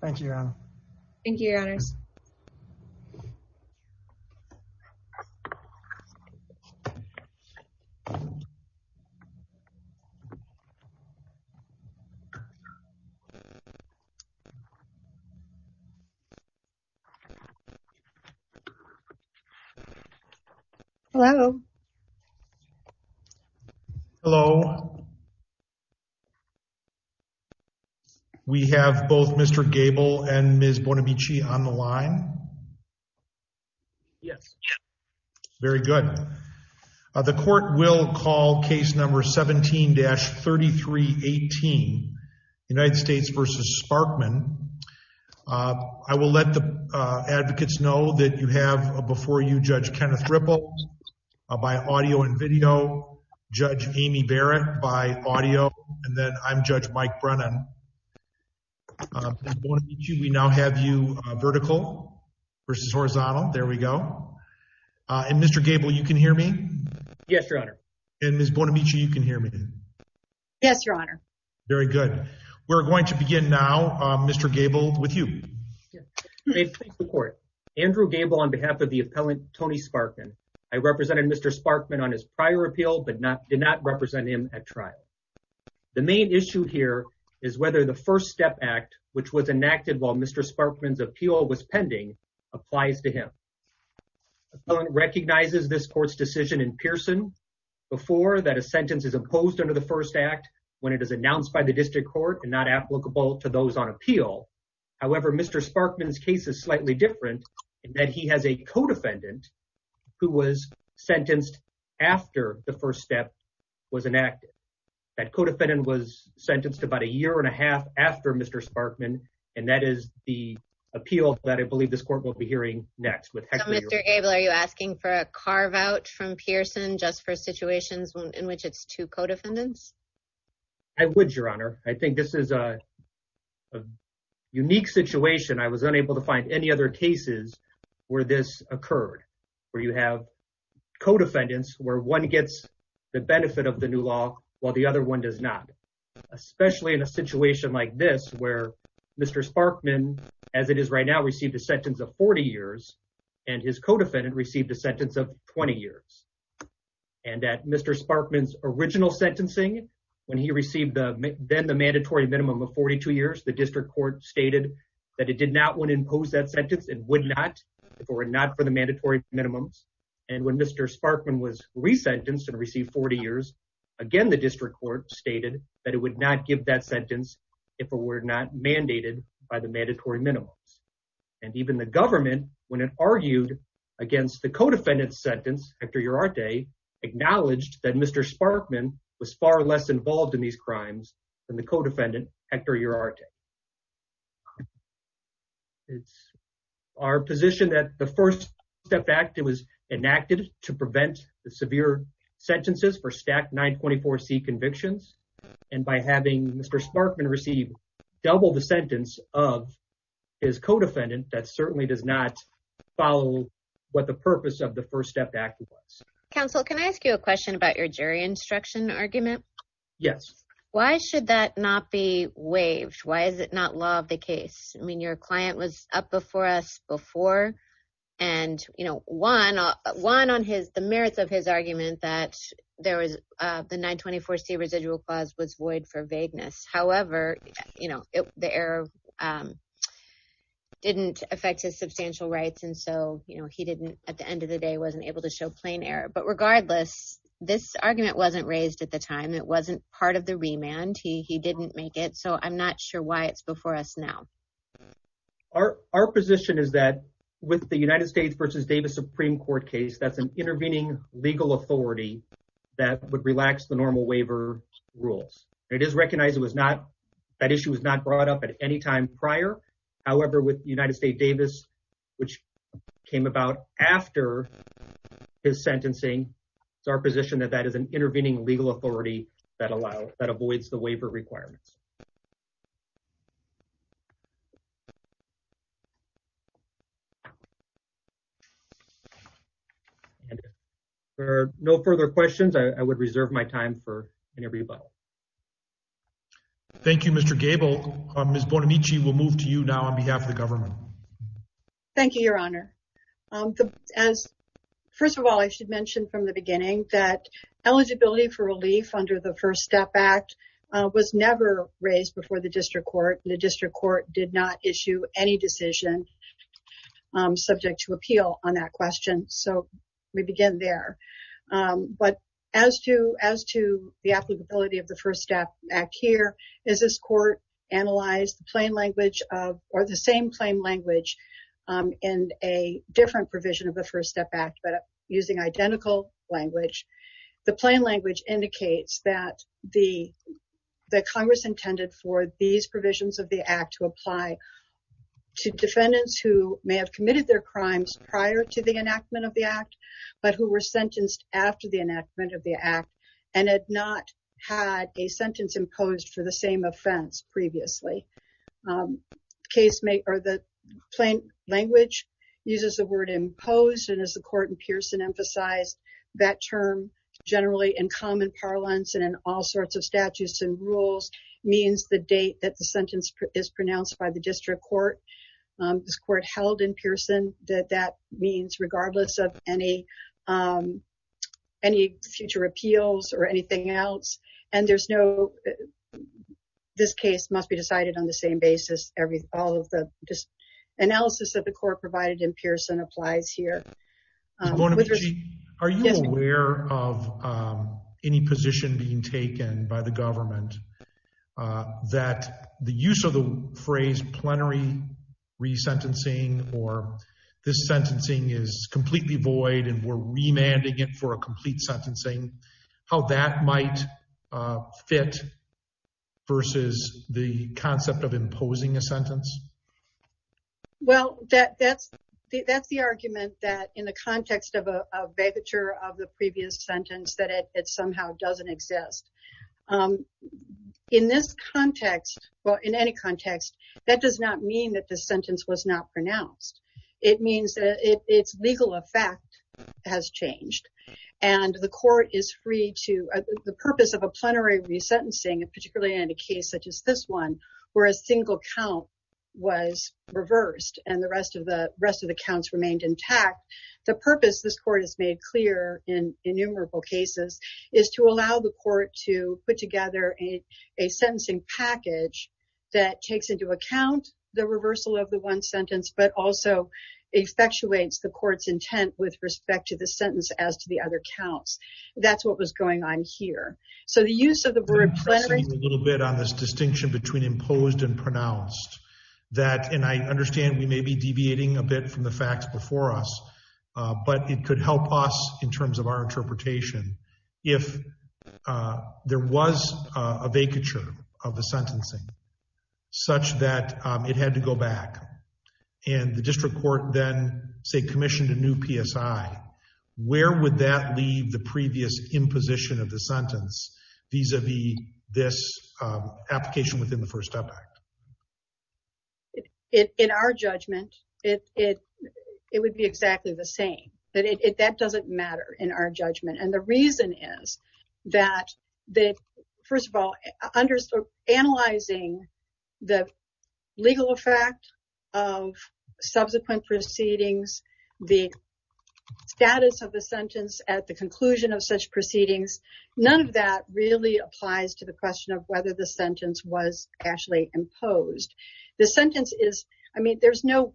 Thank you your honor. Thank you your honors. Hello. Hello. Hello. We have both Mr. Gable and Ms. Bonamici on the line. Yes. Very good. The court will call case number 17-3318 United States v. Sparkman. I will let the advocates know that you have before you Judge Kenneth Ripple by audio and video, Judge Amy Barrett by audio, and then I'm Judge Mike Brennan. We now have you vertical versus horizontal. There we go. And Mr. Gable you can hear me? Yes your honor. And Ms. Bonamici you can hear me? Yes your honor. Very good. We're going to begin now Mr. Gable with you. Andrew Gable on behalf of the appellant Tony Sparkman. I represented Mr. Sparkman on his prior appeal but not did not represent him at trial. The main issue here is whether the first step act which was enacted while Mr. Sparkman's appeal was pending applies to him. Appellant recognizes this court's decision in Pearson before that a sentence is imposed under the first act when it is announced by the district court and not applicable to those on appeal. However Mr. Sparkman's case is slightly different in that he has a co-defendant who was sentenced after the first step was enacted. That co-defendant was sentenced about a year and a half after Mr. Sparkman and that is the appeal that I believe this court will be hearing next. So Mr. Gable are you asking for a carve-out from Pearson just for situations in which it's two co-defendants? I would your honor. I think this is a a unique situation. I was unable to find any other cases where this occurred where you have co-defendants where one gets the benefit of the new law while the other one does not. Especially in a situation like this where Mr. Sparkman as it is right now received a sentence of 40 years and his co-defendant received a sentence of 20 years and that Mr. Sparkman's original sentencing when he received the then the mandatory minimum of 42 years the district court stated that it did not want to impose that sentence it would not if it were not for the mandatory minimums and when Mr. Sparkman was resentenced and received 40 years again the district court stated that it would not give that sentence if it were not mandated by the mandatory minimums Hector Uriarte acknowledged that Mr. Sparkman was far less involved in these crimes than the co-defendant Hector Uriarte. It's our position that the first step act was enacted to prevent the severe sentences for stacked 924c convictions and by having Mr. Sparkman receive double the sentence of his co-defendant that certainly does not follow what the purpose of the first step act was. Counsel can I ask you a question about your jury instruction argument? Yes. Why should that not be waived? Why is it not law of the case? I mean your client was up before us before and you know one on his the merits of his argument that there was the 924c residual clause was void for vagueness however you know the error didn't affect his substantial rights and so you know he didn't at the end of the day wasn't able to show plain error but regardless this argument wasn't raised at the time it wasn't part of the remand he he didn't make it so I'm not sure why it's before us now. Our position is that with the United States versus Davis Supreme Court case that's an intervening legal authority that would relax the normal waiver rules. It is recognized it was not that issue was not brought up at any time prior however with United States Davis which came about after his sentencing it's our position that that is an intervening legal authority that allows that avoids the waiver requirements. Thank you. There are no further questions I would reserve my time for any rebuttal. Thank you Mr. Gable. Ms. Bonamici will move to you now on behalf of the government. Thank you your honor. As first of all I should mention from the beginning that eligibility for relief under the First Step Act was never raised before the district court. The district court did not issue any decision subject to appeal on that question so we begin there but as to as to the applicability of the First Step Act here is this court analyzed the plain language of or the same plain language in a different provision of the First Step Act but using identical language. The plain language indicates that the Congress intended for these provisions of the Act to apply to defendants who may have committed their crimes prior to the enactment of the Act but who were sentenced after the enactment of the Act and had not had a sentence imposed for the same offense previously. The plain language uses the word imposed and as the court in Pearson emphasized that term generally in common parlance and in all sorts of statutes and rules means the date that the sentence is pronounced by the district court. This court held in Pearson that that means regardless of any future appeals or anything else and there's no this case must be decided on the same basis every all of the analysis that the court provided in Pearson applies here. Are you aware of any position being taken by the government that the use of the phrase plenary resentencing or this sentencing is completely void and we're remanding it for a complete sentencing how that might fit versus the concept of imposing a sentence? Well that's the argument that in the context of a vagueture of the previous sentence that it somehow doesn't exist. In this context well in any context that does not mean that the sentence was not pronounced. It means that its legal effect has changed and the court is free to the purpose of a plenary resentencing and particularly in a case such as this one where a single count was reversed and the rest of the rest of the counts remained intact. The purpose this court has made clear in innumerable cases is to allow the court to put together a sentencing package that takes into account the reversal of the one sentence but also effectuates the court's intent with respect to the sentence as to the other counts. That's what was going on here. So the use of the word plenary a little bit on this distinction between imposed and pronounced that and I understand we may be deviating a bit from the facts before us but it could help us in terms of our interpretation if there was a vacature of the sentencing such that it had to go back and the district court then say commissioned a new PSI where would that leave the previous imposition of the sentence vis-a-vis this application within the first up act? In our judgment it would be exactly the same that doesn't matter in our judgment and the reason is that first of all analyzing the legal effect of subsequent proceedings the status of the sentence at the conclusion of such proceedings none of that really applies to the question of whether the sentence was actually imposed. The sentence is I mean there's no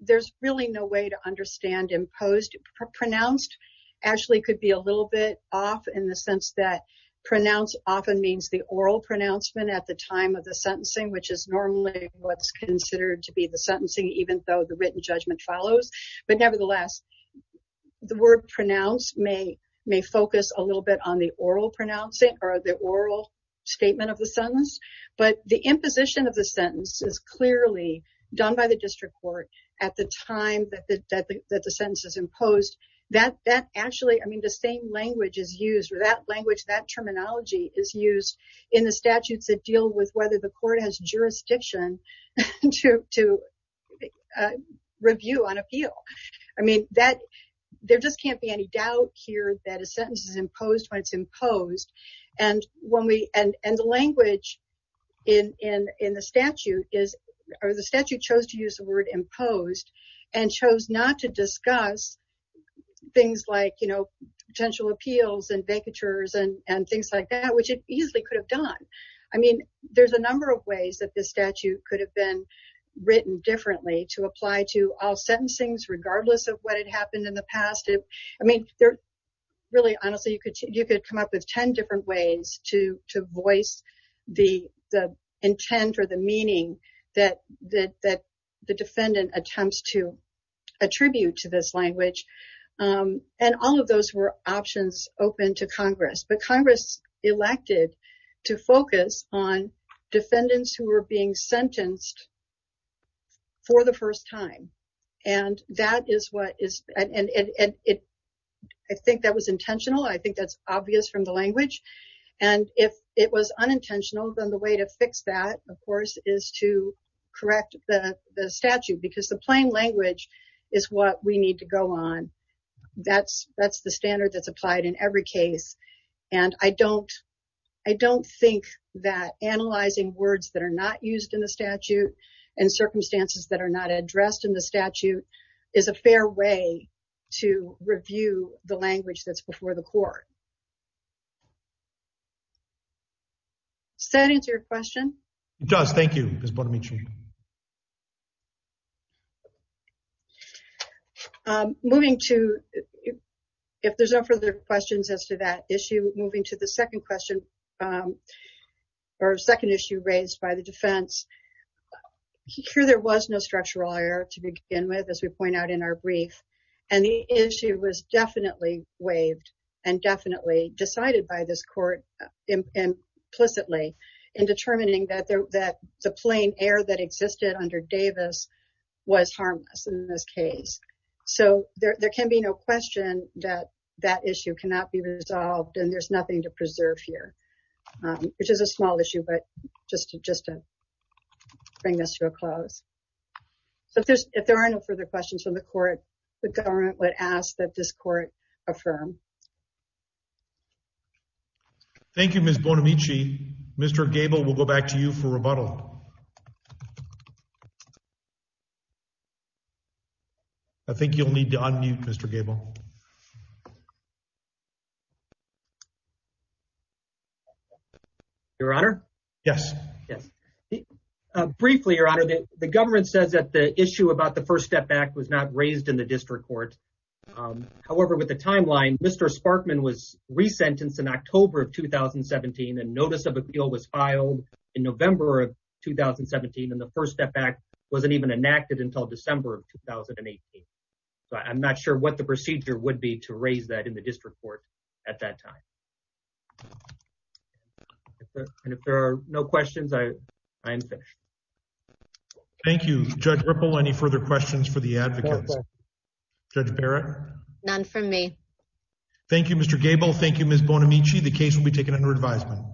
there's really no way to understand imposed. Pronounced actually could be a little bit off in the sense that pronounced often means the oral pronouncement at the time of the sentencing which is normally what's considered to be the sentencing even though the written judgment follows but nevertheless the word pronounced may may focus a little bit on the oral pronouncing or the oral statement of the sentence but the imposition of the sentence is clearly done by the district court at the time that the that the sentence is imposed that that actually I mean the same language is that language that terminology is used in the statutes that deal with whether the court has jurisdiction to review on appeal. I mean that there just can't be any doubt here that a sentence is imposed when it's imposed and when we and and the language in in in the statute is or the statute chose to use the word imposed and chose not to discuss things like you know potential appeals and vacatures and and things like that which it easily could have done. I mean there's a number of ways that this statute could have been written differently to apply to all sentencings regardless of what had happened in the past. I mean they're really honestly you could you could come up with 10 different ways to to voice the the intent or the meaning that that that the defendant attempts to attribute to this language and all of those were options open to Congress but Congress elected to focus on defendants who were being sentenced for the first time and that is what is and and it I think that was intentional I think that's obvious from the language and if it was unintentional then the way to fix that of course is to correct the the statute because the plain language is what we need to go on that's that's the standard that's applied in every case and I don't I don't think that analyzing words that are not used in the statute and circumstances that are not addressed in the statute is a fair way to review the language that's before the court. Does that answer your question? It does, thank you Ms. Bormici. Moving to if there's no further questions as to that issue moving to the second question or second issue raised by the defense here there was no structural error to begin with as we point out in our brief and the issue was definitely waived and definitely decided by this court implicitly in determining that there that the this case so there there can be no question that that issue cannot be resolved and there's nothing to preserve here which is a small issue but just to just to bring this to a close so if there's if there are no further questions from the court the government would ask that this court affirm. Thank you Ms. Bormici. Mr. Gabel we'll go back to you for rebuttal. I think you'll need to unmute Mr. Gabel. Your honor yes yes briefly your honor the government says that the issue about the first step back was not raised in the district court however with the timeline Mr. Sparkman was resentenced in October of 2017 and notice of appeal was filed in November of 2017 and the first step wasn't even enacted until December of 2018 so I'm not sure what the procedure would be to raise that in the district court at that time. And if there are no questions I am finished. Thank you Judge Ripple. Any further questions for the advocates? Judge Barrett? None from me. Thank you Mr. Gabel. Thank you Ms. Bormici. The case will be taken under advisement.